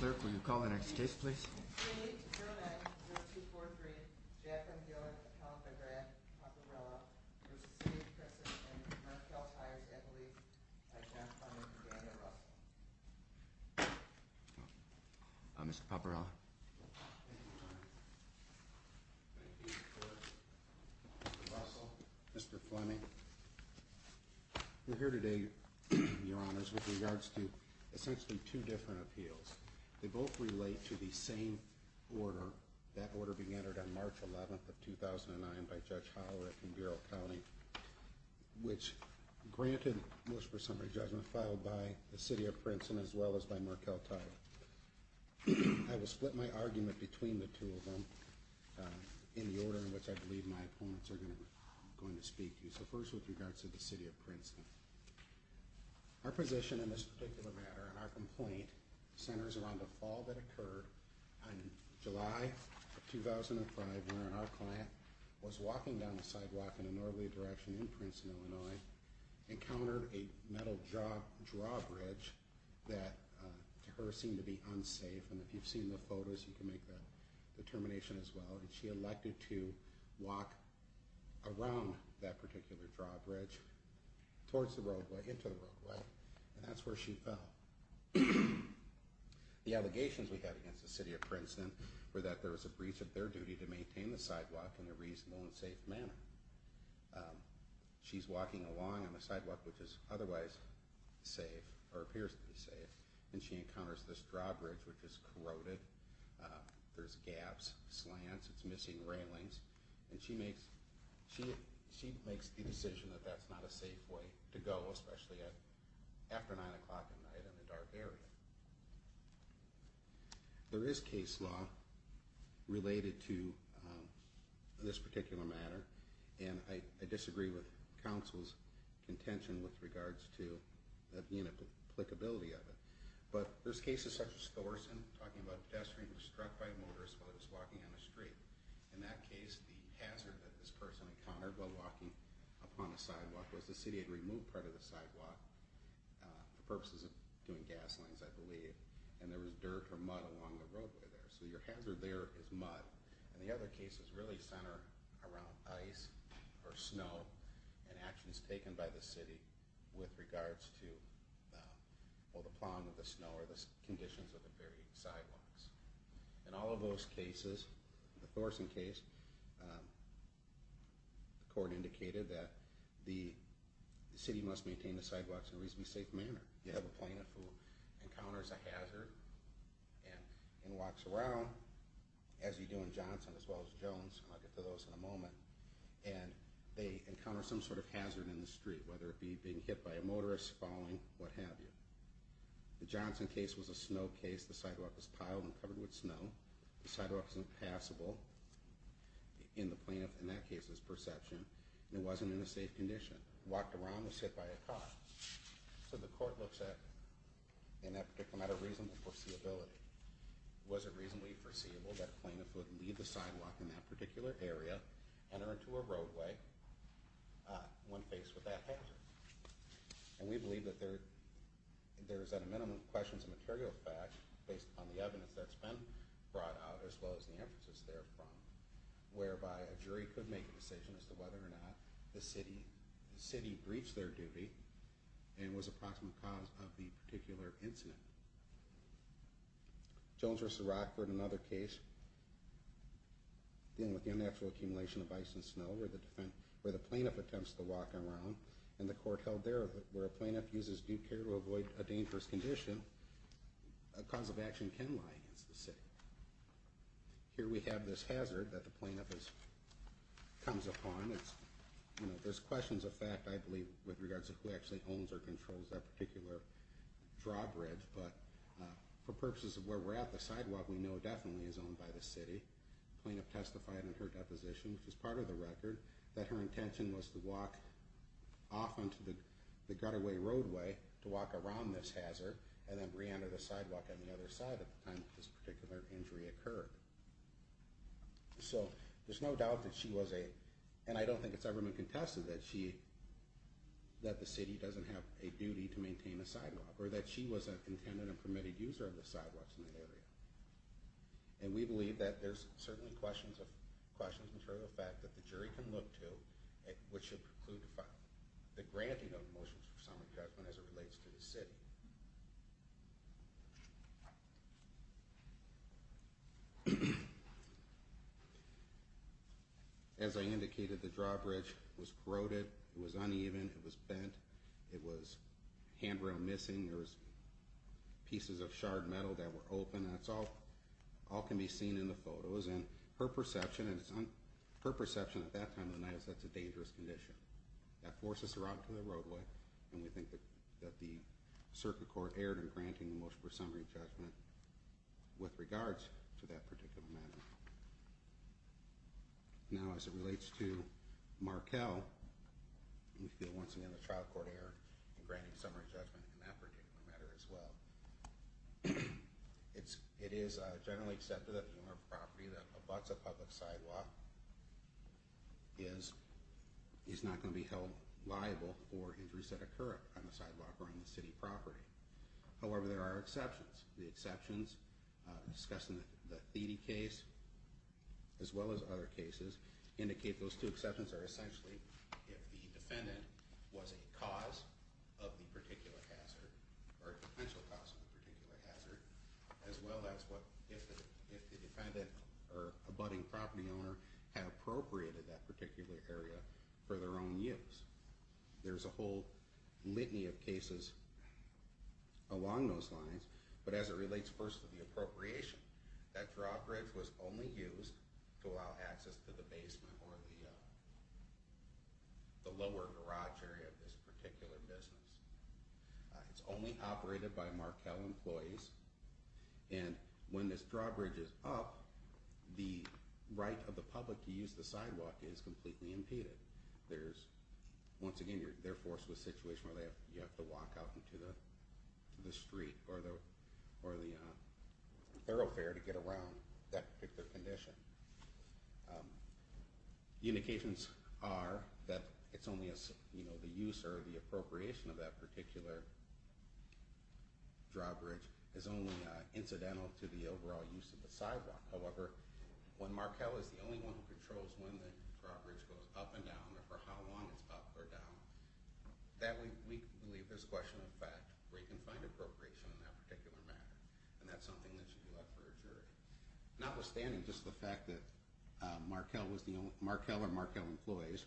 Clerk, will you call the next case, please? We need to hear an action. Bill 243, Jacqueline Gillett, a count by Grant, Papparella v. City of Princeton and Mercall Tires, I believe, by John Fleming and Daniel Russell. Mr. Papparella. Thank you, Your Honor. Thank you, Mr. Russell, Mr. Fleming. We're here today, Your Honors, with regards to they both relate to the same order, that order being entered on March 11th of 2009 by Judge Hollerick in Bureau County which, granted most for summary judgment, filed by the City of Princeton as well as by Mercall Tire. I will split my argument between the two of them in the order in which I believe my opponents are going to speak to you. So first with regards to the City of Princeton. Our position in this particular matter and our complaint centers around a fall that occurred in July of 2005 when our client was walking down the sidewalk in a northerly direction in Princeton, Illinois, and encountered a metal drawbridge that to her seemed to be unsafe, and if you've seen the photos you can make the determination as well, and she elected to walk around that particular drawbridge towards the roadway, into the roadway, and that's where she fell. The allegations we had against the City of Princeton were that there was a breach of their duty to maintain the sidewalk in a reasonable and safe manner. She's walking along on a sidewalk which is otherwise safe, or appears to be safe, and she encounters this drawbridge which is corroded, there's gaps, slants, it's missing railings, and she makes the decision that that's not a safe way to go, especially after 9 o'clock at night in a dark area. There is case law related to this particular matter, and I disagree with Council's contention with regards to the inapplicability of it, but there's cases such as Thorson talking about a pedestrian who was struck by a motorist while he was walking on a street. In that case, the hazard that this person encountered while walking upon a sidewalk was the City had removed part of the sidewalk for purposes of doing gas lines, I believe, and there was dirt or mud along the roadway there, so your hazard there is mud, and the other cases really center around ice or snow and actions taken by the City with regards to the plowing of the snow or the conditions of the various sidewalks. In all of those cases, the Thorson case, the court indicated that the City must maintain the sidewalks in a reasonably safe manner. You have a plaintiff who encounters a hazard and walks around, as you do in Johnson as well as Jones, and I'll get to those in a moment, and they encounter some sort of hazard in the street, whether it be being hit by a motorist, falling, what have you. The Johnson case was a snow case. The sidewalk was piled and covered with snow. The sidewalk wasn't passable in the plaintiff's, in that case, perception, and it wasn't in a safe condition. Walked around was hit by a car. So the court looks at in that particular matter, reasonable foreseeability. Was it reasonably foreseeable that a plaintiff would leave the sidewalk in that particular area, enter into a roadway when faced with that hazard? And we believe that there is at a minimum questions of material fact based upon the evidence that's been brought out, as well as the emphasis therefrom, whereby a jury could make a decision as to whether or not the city breached their duty and was a proximate cause of the particular incident. Jones versus Rockford, another case, dealing with the unnatural accumulation of ice and snow, where the plaintiff attempts to walk around, and the court held there that where a plaintiff uses due care to avoid a dangerous condition, a cause of action can lie against the city. Here we have this hazard that the plaintiff comes upon. There's questions of fact, I believe, with regards to who actually owns or controls that particular drawbridge, but for purposes of where we're at, the sidewalk we know definitely is owned by the city. The plaintiff testified in her deposition, which is part of the record, that her intention was to walk off onto the gutterway roadway to walk around this hazard and then re-enter the sidewalk on the other side at the time that this particular injury occurred. So there's no doubt that she was a and I don't think it's ever been contested that she that the city doesn't have a duty to maintain a sidewalk or that she was an intended and permitted user of the sidewalks in the area. And we believe that there's certainly questions of fact that the jury can look to which should preclude the granting of motions for summary judgment as it relates to the city. As I indicated, the drawbridge was corroded, it was uneven, it was bent, it was handrail missing, there was pieces of shard metal that were open, that's all can be seen in the photos, and her perception at that time of the night is that it's a dangerous condition. That forces her out to the roadway and we think that the circuit court erred in granting the motion for summary judgment with regards to that particular matter. Now as it relates to Markell, we feel once again the trial court erred in granting summary judgment in that particular matter as well. It is generally accepted that the owner of the property that abuts a public sidewalk is not going to be held liable for injuries that occur on the sidewalk or on the city property. However, there are exceptions. The exceptions discussed in the Thede case as well as other cases indicate those two exceptions are essentially if the defendant was a cause of the particular hazard or a potential cause of the particular hazard as well as if the defendant or abutting property owner had appropriated that particular area for their own use. There's a whole litany of cases along those lines, but as it relates first to the appropriation, that drawbridge was only used to allow access to the basement or the lower garage area of this particular business. It's only operated by Markell employees and when this drawbridge is up, the right of the public to use the sidewalk is completely impeded. Once again, they're forced to a situation where they have to walk out into the street or the thoroughfare to get around that particular condition. The indications are that it's only the use or the appropriation of that particular drawbridge is only incidental to the overall use of the sidewalk. However, when Markell is the only one who controls when the drawbridge goes up and down or for how long it's up or down, we believe there's a question of fact where you can find appropriation in that particular matter and that's something that should be left for a jury. Notwithstanding just the fact that Markell or Markell employees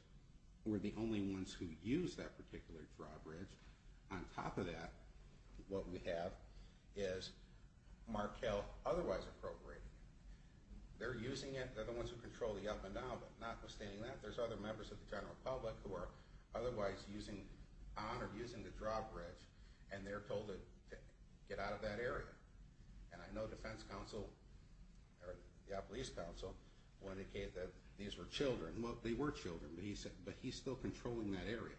were the only ones who used that particular drawbridge, on top of that what we have is Markell otherwise appropriating it. They're using it, they're the ones who control the up and down, but notwithstanding that, there's other members of the general public who are otherwise using on or using the drawbridge and they're told to get out of that area. And I know defense counsel or the police counsel will indicate that these were children. Well, they were children, but he's still controlling that area.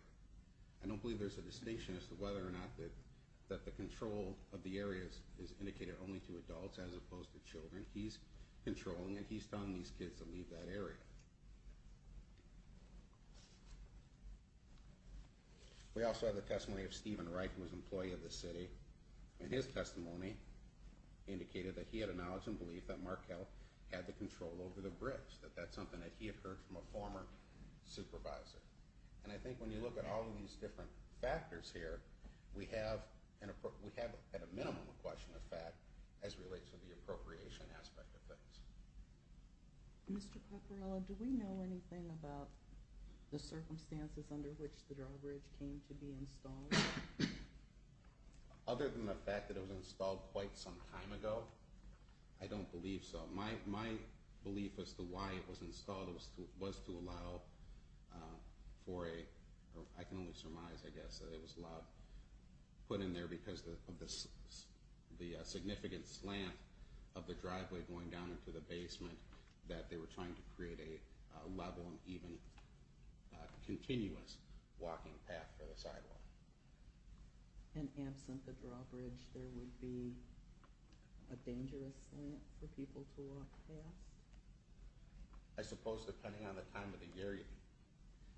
I don't believe there's a distinction as to whether or not that the control of the area is indicated only to adults as opposed to children. He's controlling and he's telling these kids to leave that area. We also have the testimony of Stephen Wright, who was an employee of the city, and his testimony indicated that he had a knowledge and belief that Markell had the control over the bridge, that that's something that he had heard from a former supervisor. And I think when you look at all of these different factors here, we have at a minimum a question of fact as relates to the appropriation aspect of things. Mr. Pecoraro, do we know anything about the circumstances under which the drawbridge came to be installed? Other than the fact that it was installed quite some time ago, I don't believe so. My belief as to why it was installed was to allow for a I can only surmise, I guess, that it was allowed, put in there because of the significant slant of the driveway going down into the basement that they were trying to create a level and even continuous walking path for the sidewalk. And absent the drawbridge, there would be a dangerous slant for people to walk past? I suppose depending on the time of the year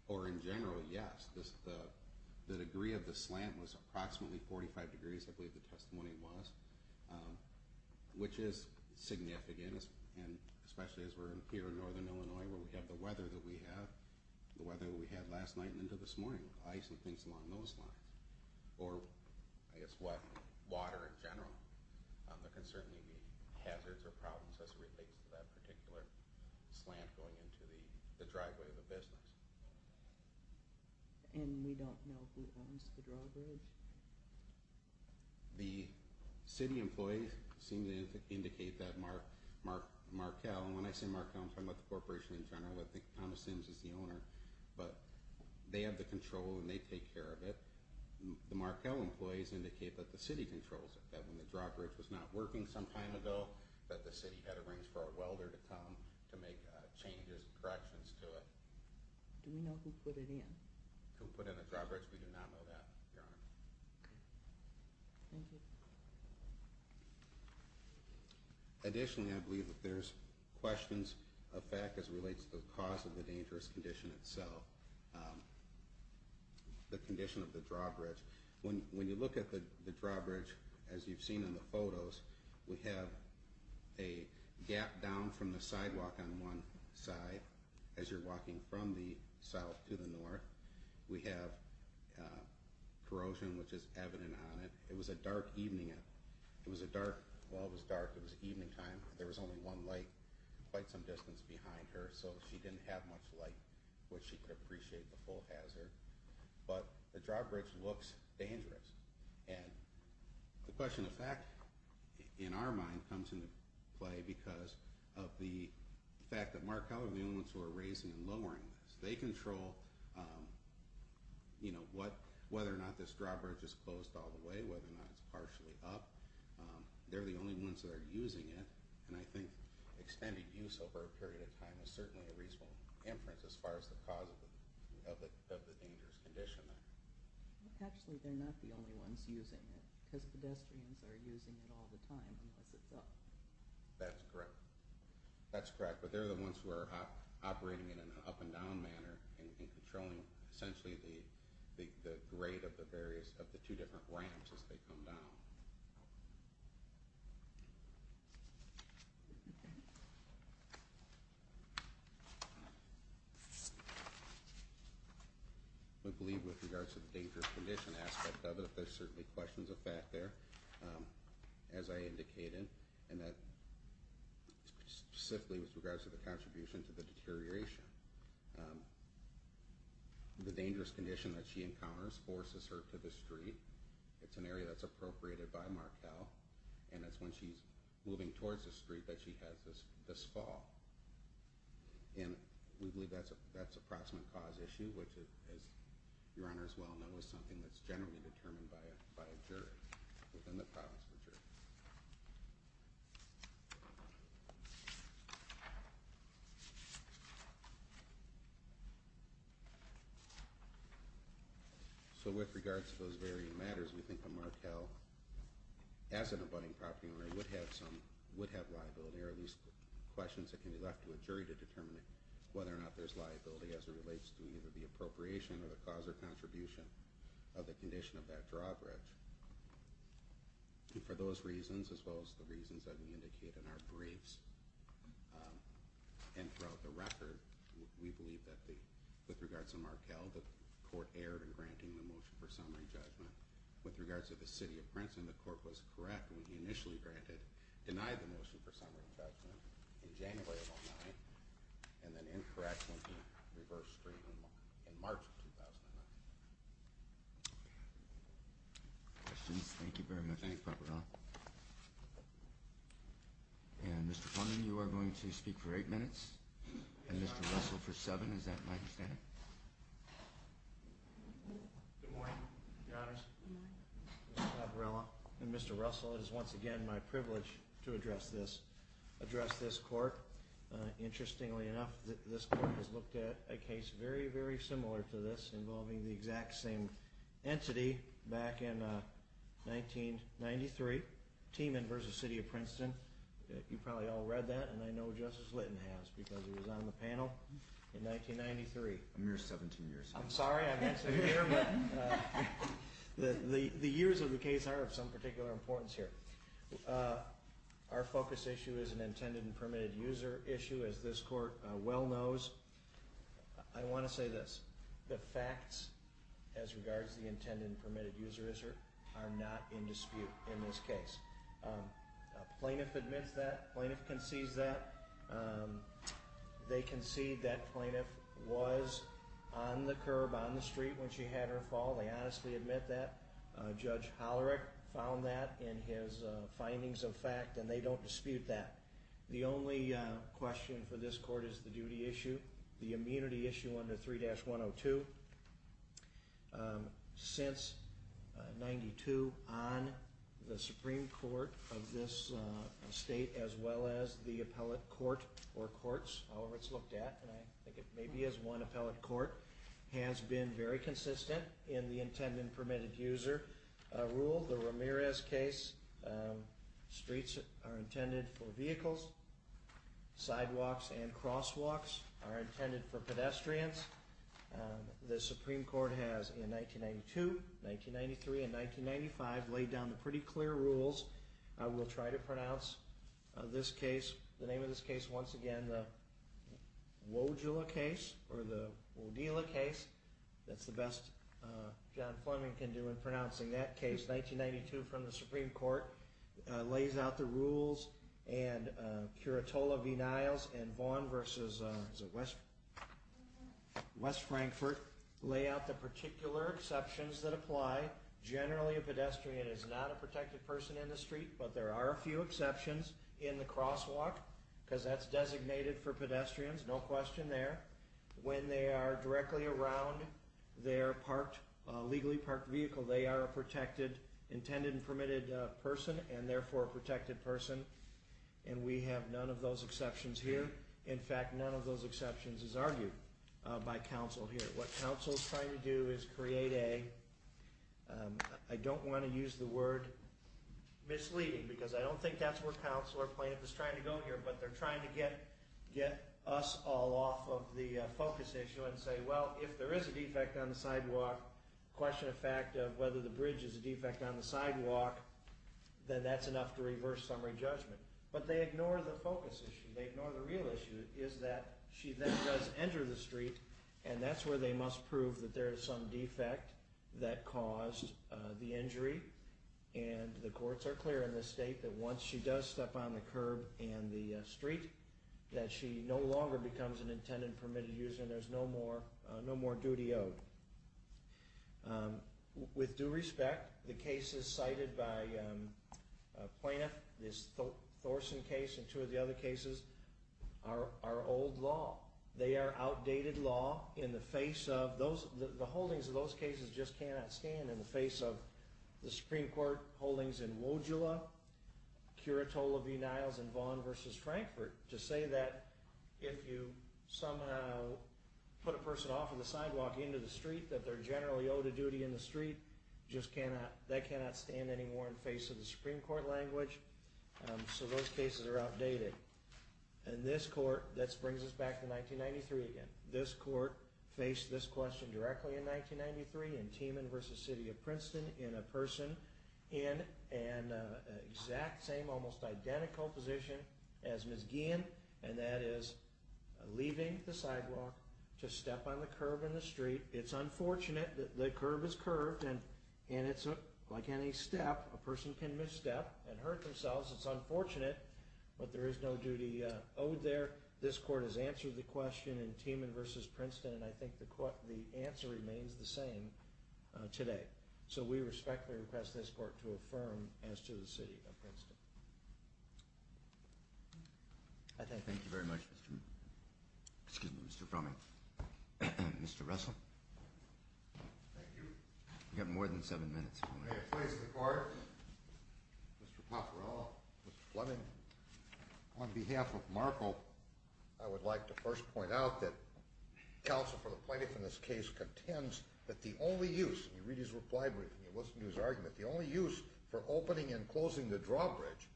or in general, yes. The degree of the slant was approximately 45 degrees, I believe the testimony was. Which is significant especially as we're here in northern Illinois where we have the weather that we have the weather that we had last night and into this morning. Ice and things along those lines. Or I guess water in general. There can certainly be hazards or problems as it relates to that particular slant going into the driveway of a business. And we don't know who owns the drawbridge? The city employees seem to indicate that Markell, and when I say Markell I'm talking about the corporation in general, I think Thomas Sims is the owner but they have the control and they take care of it. The Markell employees indicate that the city controls it, that when the drawbridge was not working some time ago that the city had arranged for a welder to come to make changes and corrections to it. Do we know who put it in? Who put in the drawbridge? We do not know that, Your Honor. Thank you. Additionally, I believe there's questions of fact as it relates to the cause of the dangerous condition itself. The condition of the drawbridge. When you look at the drawbridge, as you've seen in the photos, we have a gap down from the sidewalk on one side. As you're walking from the south to the north, we have corrosion, which is evident on it. It was a dark evening. It was a dark, well it was dark, it was evening time. There was only one light quite some distance behind her so she didn't have much light which she could appreciate the full hazard. But the drawbridge looks dangerous. The question of fact in our mind comes into play because of the fact that Markeller, the units who are raising and lowering this, they control whether or not this drawbridge is closed all the way, whether or not it's partially up. They're the only ones that are using it and I think extended use over a period of time is certainly a reasonable inference as far as the cause of the dangerous condition. Actually they're not the only ones using it because pedestrians are using it all the time unless it's up. That's correct. But they're the ones who are operating it in an up and down manner and controlling essentially the grade of the two different ramps as they come down. I believe with regards to the dangerous condition aspect of it, there's certainly questions of fact there as I indicated and that specifically with regards to the contribution to the deterioration. The dangerous condition that she encounters forces her to the street. It's an area that's appropriated by Markell and it's when she's moving towards the street that she has this fall. And we believe that's an approximate cause issue which as your honors well know is something that's generally determined by a jury within the province of Virginia. So with regards to those varying matters we think of Markell as an abutting property owner would have some liability or at least questions that can be left to a jury to determine whether or not there's liability as it relates to either the appropriation or the cause or contribution of the condition of that drawbridge. And for those reasons as well as the reasons that we indicate in our briefs and throughout the record we believe that with regards to Markell the court erred in granting the motion for summary judgment. With regards to the city of Princeton the court was correct when he initially denied the motion for summary judgment in January of 2009 and then incorrect when he reversed street in March of 2009. Questions? Thank you very much Mr. Paparella. And Mr. Plumbin you are going to speak for eight minutes and Mr. Russell for seven. Is that my understanding? Good morning your honors. Good morning. Mr. Paparella and Mr. Russell it is once again my privilege to address this court. Interestingly enough this court has looked at a case very very similar to this involving the exact same entity back in 1993. Teeman v. City of Princeton. You probably all read that and I know Justice Litton has because he was on the panel in 1993. A mere 17 years. I'm sorry I'm here but the years of the case are of some particular importance here. Our focus issue is an intended and permitted user issue as this court well knows. I want to say this. The facts as regards to the intended and permitted user are not in dispute in this case. Plaintiff admits that. Plaintiff concedes that. They concede that plaintiff was on the curb on the street when she had her fall. They honestly admit that. Judge Hollerick found that in his findings of fact and they don't dispute that. The only question for this court is the duty issue. The immunity issue under 3-102 since 1992 on the Supreme Court of this state as well as the appellate court or courts, however it's looked at and I think it may be as one appellate court has been very consistent in the intended and permitted user rule. The Ramirez case streets are intended for vehicles sidewalks and crosswalks are intended for pedestrians the Supreme Court has in 1992 1993 and 1995 laid down the pretty clear rules I will try to pronounce this case, the name of this case once again the Wojula case or the Wodila case, that's the best John Fleming can do in pronouncing that case. 1992 from the Supreme Court lays out the rules and Curatola v. Niles and Vaughn versus West Frankfurt lay out the particular exceptions that apply. Generally a pedestrian is not a protected person in the street but there are a few exceptions in the crosswalk because that's designated for pedestrians, no question there. When they are directly around their legally parked vehicle they are a protected, intended and permitted person and therefore a protected person and we have none of those exceptions here. In fact none of those exceptions is argued by counsel here. What counsel is trying to do is create a I don't want to use the word misleading because I don't think that's where counsel or plaintiff is trying to go here but they're trying to get us all off of the focus issue and say well if there is a defect on the sidewalk question of fact of whether the bridge is a defect on the sidewalk then that's enough to reverse summary judgment but they ignore the focus issue they ignore the real issue is that she then does enter the street and that's where they must prove that there is some defect that caused the injury and the courts are clear in this state that once she does step on the curb and the street that she no longer becomes an intended and permitted user and there is no more duty owed. With due respect the cases cited by a plaintiff this Thorson case and two of the other cases are old law they are outdated law in the face of the holdings of those cases just cannot stand in the face of the Supreme Court holdings in Wojula Curatola v. Niles and Vaughn v. Frankfurt to say that if you somehow put a person off of the sidewalk into the street that they are generally owed a duty in the street just cannot, they cannot stand anymore in the face of the Supreme Court language so those cases are outdated and this court that brings us back to 1993 again this court faced this question directly in 1993 in Timan v. City of Princeton in a person in an exact same almost identical position as Ms. Guillen and that is leaving the sidewalk to step on the curb in the street, it's unfortunate the curb is curved and it's like any step a person can misstep and hurt themselves it's unfortunate but there is no duty owed there this court has answered the question in Timan v. Princeton and I think the answer remains the same today so we respectfully request this court to affirm as to the City of Princeton Thank you very much Mr. Fromming Mr. Russell Thank you You have more than 7 minutes Mr. Paparella Mr. Fleming On behalf of Markel I would like to first point out that counsel for the plaintiff in this case contends that the only use you read his reply brief and you listen to his argument the only use for opening and closing the drawbridge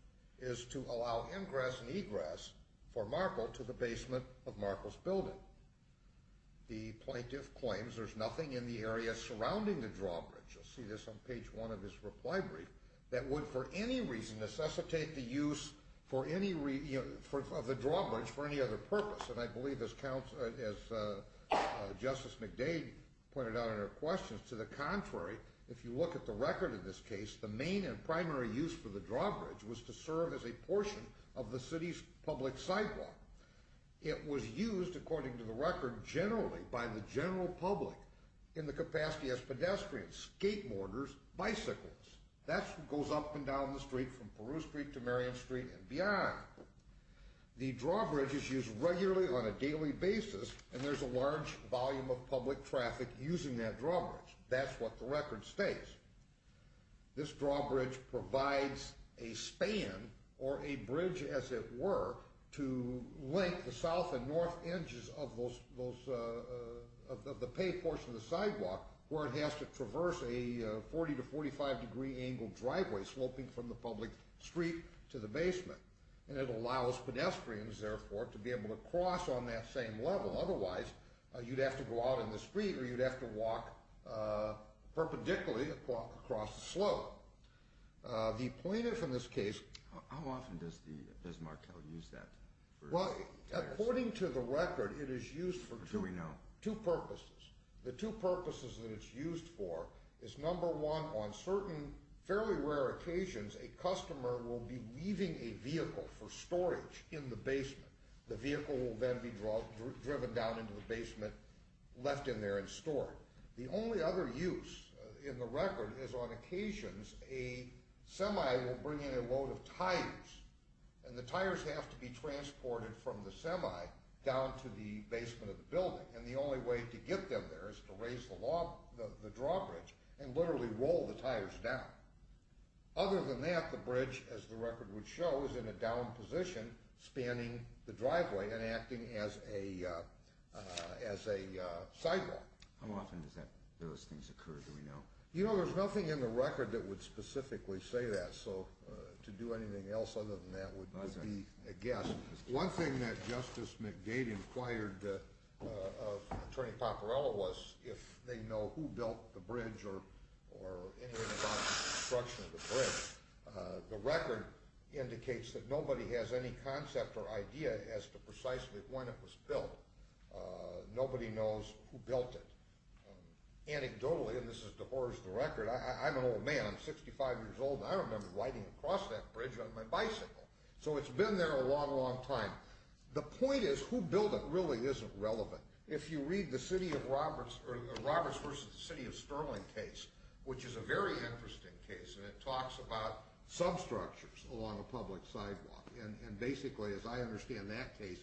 is to allow ingress and egress for Markel to the basement of Markel's building. The plaintiff claims there's nothing in the area surrounding the drawbridge you'll see this on page 1 of his reply brief that would for any reason necessitate the use for any of the drawbridge for any other purpose and I believe as Justice McDade pointed out in her questions to the contrary if you look at the record in this case the main and primary use for the drawbridge was to serve as a portion of the city's public sidewalk it was used according to the record generally by the general public in the capacity as pedestrians, skateboarders, bicycles, that goes up and down the street from Peru Street to Marion Street and beyond the drawbridge is used regularly on a daily basis and there's a large volume of public traffic using that drawbridge. That's what the record states. This drawbridge provides a span or a bridge as it were to link the south and north edges of those of the pay portion of the sidewalk where it has to traverse a 40 to 45 degree angle driveway sloping from the public street to the basement and it allows pedestrians therefore to be able to cross on that same level otherwise you'd have to go out in the street or you'd have to walk perpendicularly across the slope. The plaintiff in this case... How often does Marquel use that? According to the record it is used for two purposes. The two purposes that it's used for is number one on certain fairly rare occasions a customer will be bringing a vehicle for storage in the basement. The vehicle will then be driven down into the basement left in there and stored. The only other use in the record is on occasions a semi will bring in a load of tires and the tires have to be transported from the semi down to the basement of the building and the only way to get them there is to raise the drawbridge and literally roll the tires down. Other than that the bridge as the record would show is in a down position spanning the driveway and acting as a sidewalk. How often does those things occur do we know? You know there's nothing in the record that would specifically say that so to do anything else other than that would be a guess. One thing that Justice McGade inquired of Attorney Paparella was if they know who built the bridge or anything about the construction of the bridge. The record indicates that nobody has any concept or idea as to precisely when it was built. Nobody knows who built it. Anecdotally, and this is to horse the record, I'm an old man, I'm 65 years old and I remember riding across that bridge on my bicycle. So it's been there a long long time. The point is who built it really isn't relevant. If you read the city of Roberts versus the city of Sterling case, which is a very interesting case and it talks about substructures along a public sidewalk and basically as I understand that case,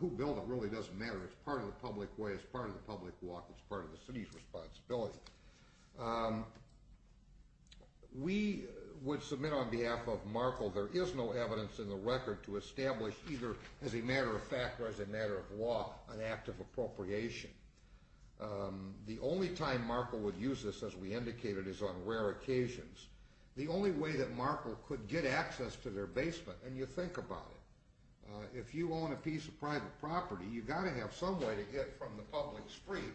who built it really doesn't matter. It's part of the public way, it's part of the public walk, it's part of the city's responsibility. We would submit on behalf of Markle there is no evidence in the record to establish either as a matter of fact or as a matter of law an act of appropriation. The only time Markle would use this as we indicated is on rare occasions. The only way that Markle could get access to their basement and you think about it, if you own a piece of private property you've got to have some way to get from the public street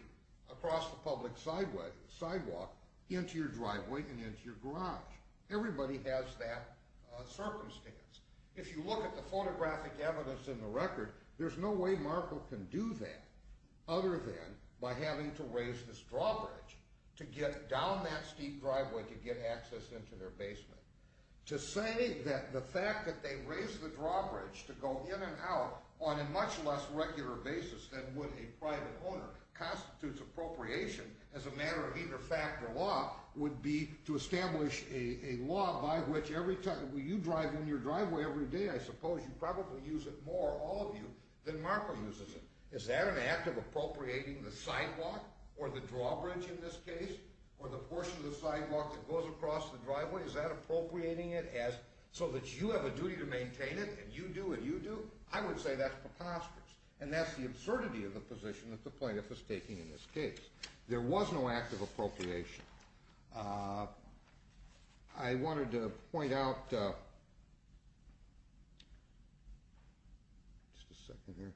across the public sidewalk into your driveway and into your garage. Everybody has that circumstance. If you look at the photographic evidence in the record there's no way Markle can do that other than by having to raise this drawbridge to get down that steep driveway to get access into their basement. To say that the fact that they raised the drawbridge to go in and out on a much less regular basis than would a private owner constitutes appropriation as a matter of either fact or law would be to establish a law by which every time you drive in your driveway every day, I suppose you probably use it more, all of you, than Markle uses it. Is that an act of appropriating the sidewalk or the drawbridge in this case or the portion of the sidewalk that goes across the driveway, is that appropriating it so that you have a duty to maintain it and you do what you do? I would say that's preposterous. And that's the absurdity of the position that the plaintiff is taking in this case. There was no act of appropriation. I wanted to point out just a second here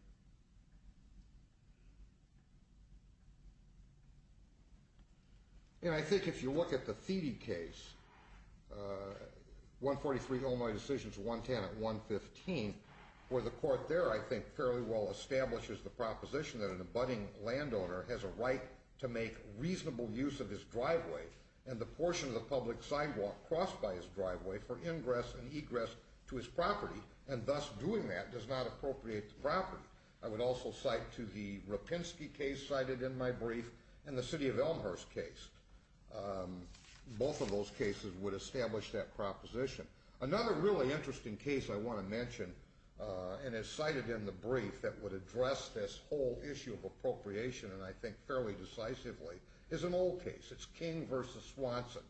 and I think if you look at the Thiede case 143 Illinois Decisions, 110 at 115 where the court there I think fairly well establishes the proposition that an abutting landowner has a right to make reasonable use of his driveway and the portion of the public sidewalk crossed by his driveway for ingress and egress to his property and thus doing that does not appropriate the property. I would also cite to the Rapinski case cited in my brief and the City of Elmhurst case. Both of those cases would establish that proposition. Another really interesting case I want to mention and it's cited in the brief that would address this whole issue of appropriation and I think fairly decisively is an old case. It's King v. Swanson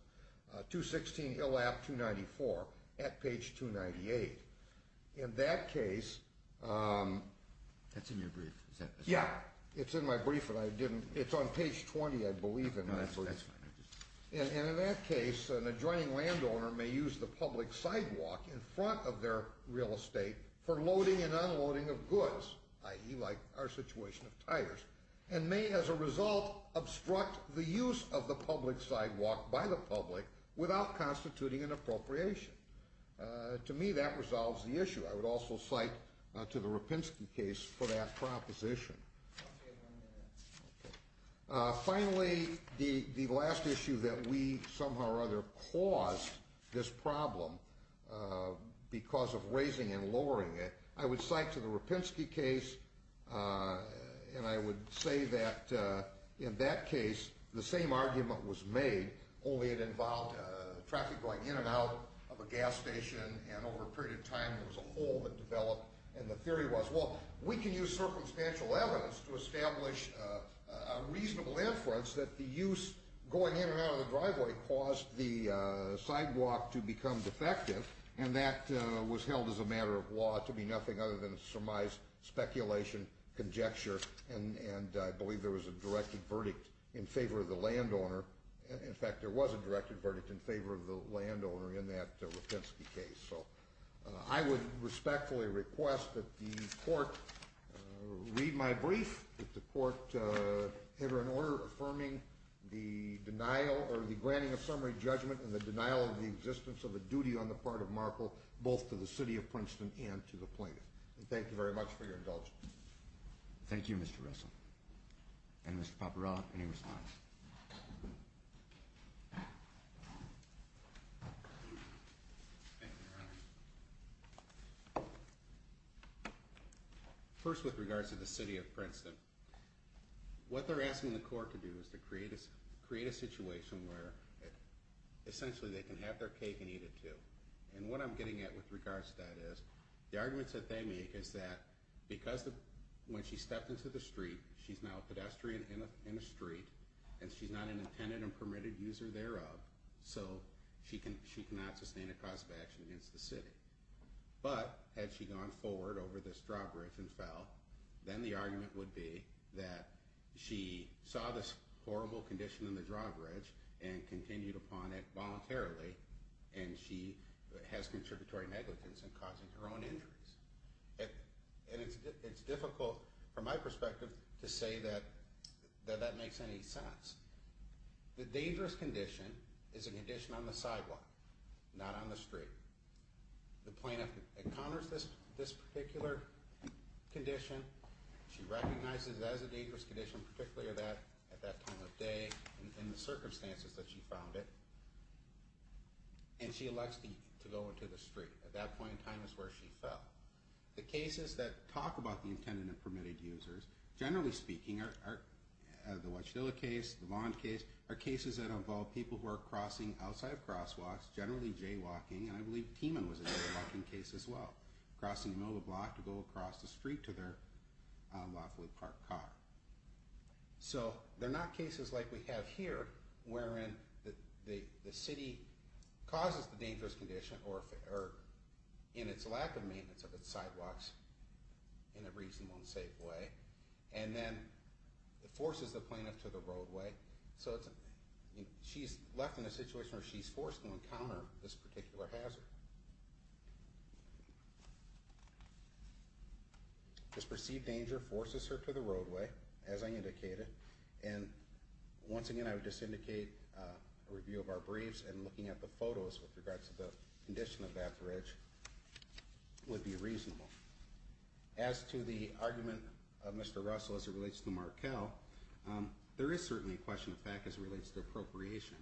216 ILAP 294 at page 298. In that case That's in your brief. Yeah, it's in my brief. It's on page 20 I believe. And in that case an adjoining landowner may use the public sidewalk in front of their real estate for loading and unloading of goods, i.e. like our situation of tires, and may as a result obstruct the use of the public sidewalk by the public without constituting an appropriation. To me that resolves the issue. I would also cite to the Rapinski case for that proposition. Finally, the last issue that we somehow or other caused this problem because of raising and lowering it, I would cite to the Rapinski case and I would say that in that case the same argument was made only it involved traffic going in and out of a gas station and over a period of time there was a hole that developed and the theory was, well we can use circumstantial evidence to establish a reasonable inference that the use going in and out of the driveway caused the sidewalk to become defective and that was held as a matter of law to be nothing other than a surmised speculation conjecture and I believe there was a directed verdict in favor of the landowner. In fact, there was a directed verdict in favor of the landowner in that Rapinski case. I would respectfully request that the court read my brief that the court enter an order affirming the denial or the granting of summary judgment and the denial of the existence of a duty on the part of Markel both to the city of Princeton and to the plaintiff. Thank you very much for your indulgence. Thank you Mr. Russell and Mr. Paparella any response? First with regards to the city of Princeton, what they're asking the court to do is to create a situation where essentially they can have their cake and eat it too and what I'm getting at with regards to that is the arguments that they make is that because when she stepped into the street she's now a pedestrian in a street and she's not an intended and permitted user thereof so she cannot sustain a cause of action against the city. But had she gone forward over this drawbridge and fell then the argument would be that she saw this horrible condition in the drawbridge and continued upon it voluntarily and she has contributory negligence in causing her own injuries and it's difficult from my perspective to say that that makes any sense. The dangerous condition is a condition on the sidewalk, not on the street. The plaintiff encounters this particular condition, she recognizes it as a dangerous condition particularly at that time of day and the circumstances that she found it and she requests to go into the street. At that point in time is where she fell. The cases that talk about the intended and permitted users, generally speaking are the Watchdilla case, the Vaughn case, are cases that involve people who are crossing outside of crosswalks, generally jaywalking and I believe Teeman was a jaywalking case as well. Crossing the middle of the block to go across the street to their lawfully parked car. So they're not cases like we have here wherein the city causes the dangerous condition or in its lack of maintenance of its sidewalks in a reasonable and safe way and then forces the plaintiff to the roadway. She's left in a situation where she's forced to encounter this particular hazard. This perceived danger forces her to the roadway as I indicated and once again I would just indicate a review of our briefs and looking at the photos with regards to the condition of that bridge would be reasonable. As to the argument of Mr. Russell as it relates to Markell there is certainly a question of fact as it relates to appropriation.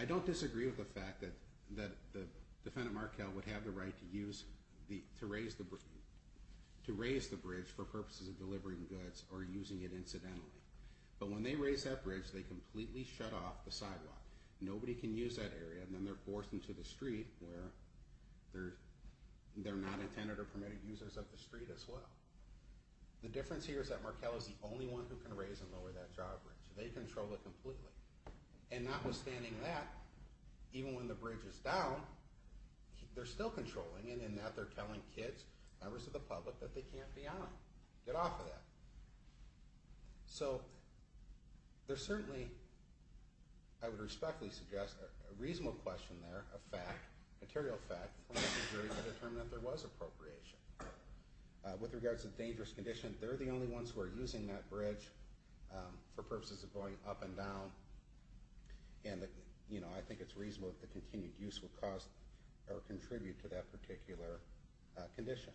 I don't disagree with the fact that the defendant Markell would have the right to use, to raise the bridge for purposes of delivering goods or when they raise that bridge they completely shut off the sidewalk. Nobody can use that area and then they're forced into the street where they're not intended or permitted users of the street as well. The difference here is that Markell is the only one who can raise and lower that job bridge. They control it completely. And notwithstanding that even when the bridge is down they're still controlling it and in that they're telling kids, members of the public that they can't be on it. Get off of that. So there's certainly I would respectfully suggest a reasonable question there of fact material fact for the jury to determine that there was appropriation. With regards to the dangerous condition they're the only ones who are using that bridge for purposes of going up and down and I think it's reasonable that the continued use will cause or contribute to that particular condition.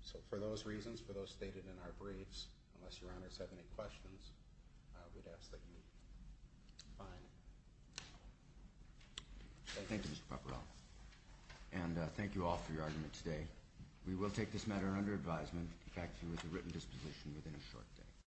So for those reasons for those stated in our briefs unless your honors have any questions I would ask that you sign. Thank you Mr. Papperell and thank you all for your argument today. We will take this matter under advisement back to you with a written disposition within a short day.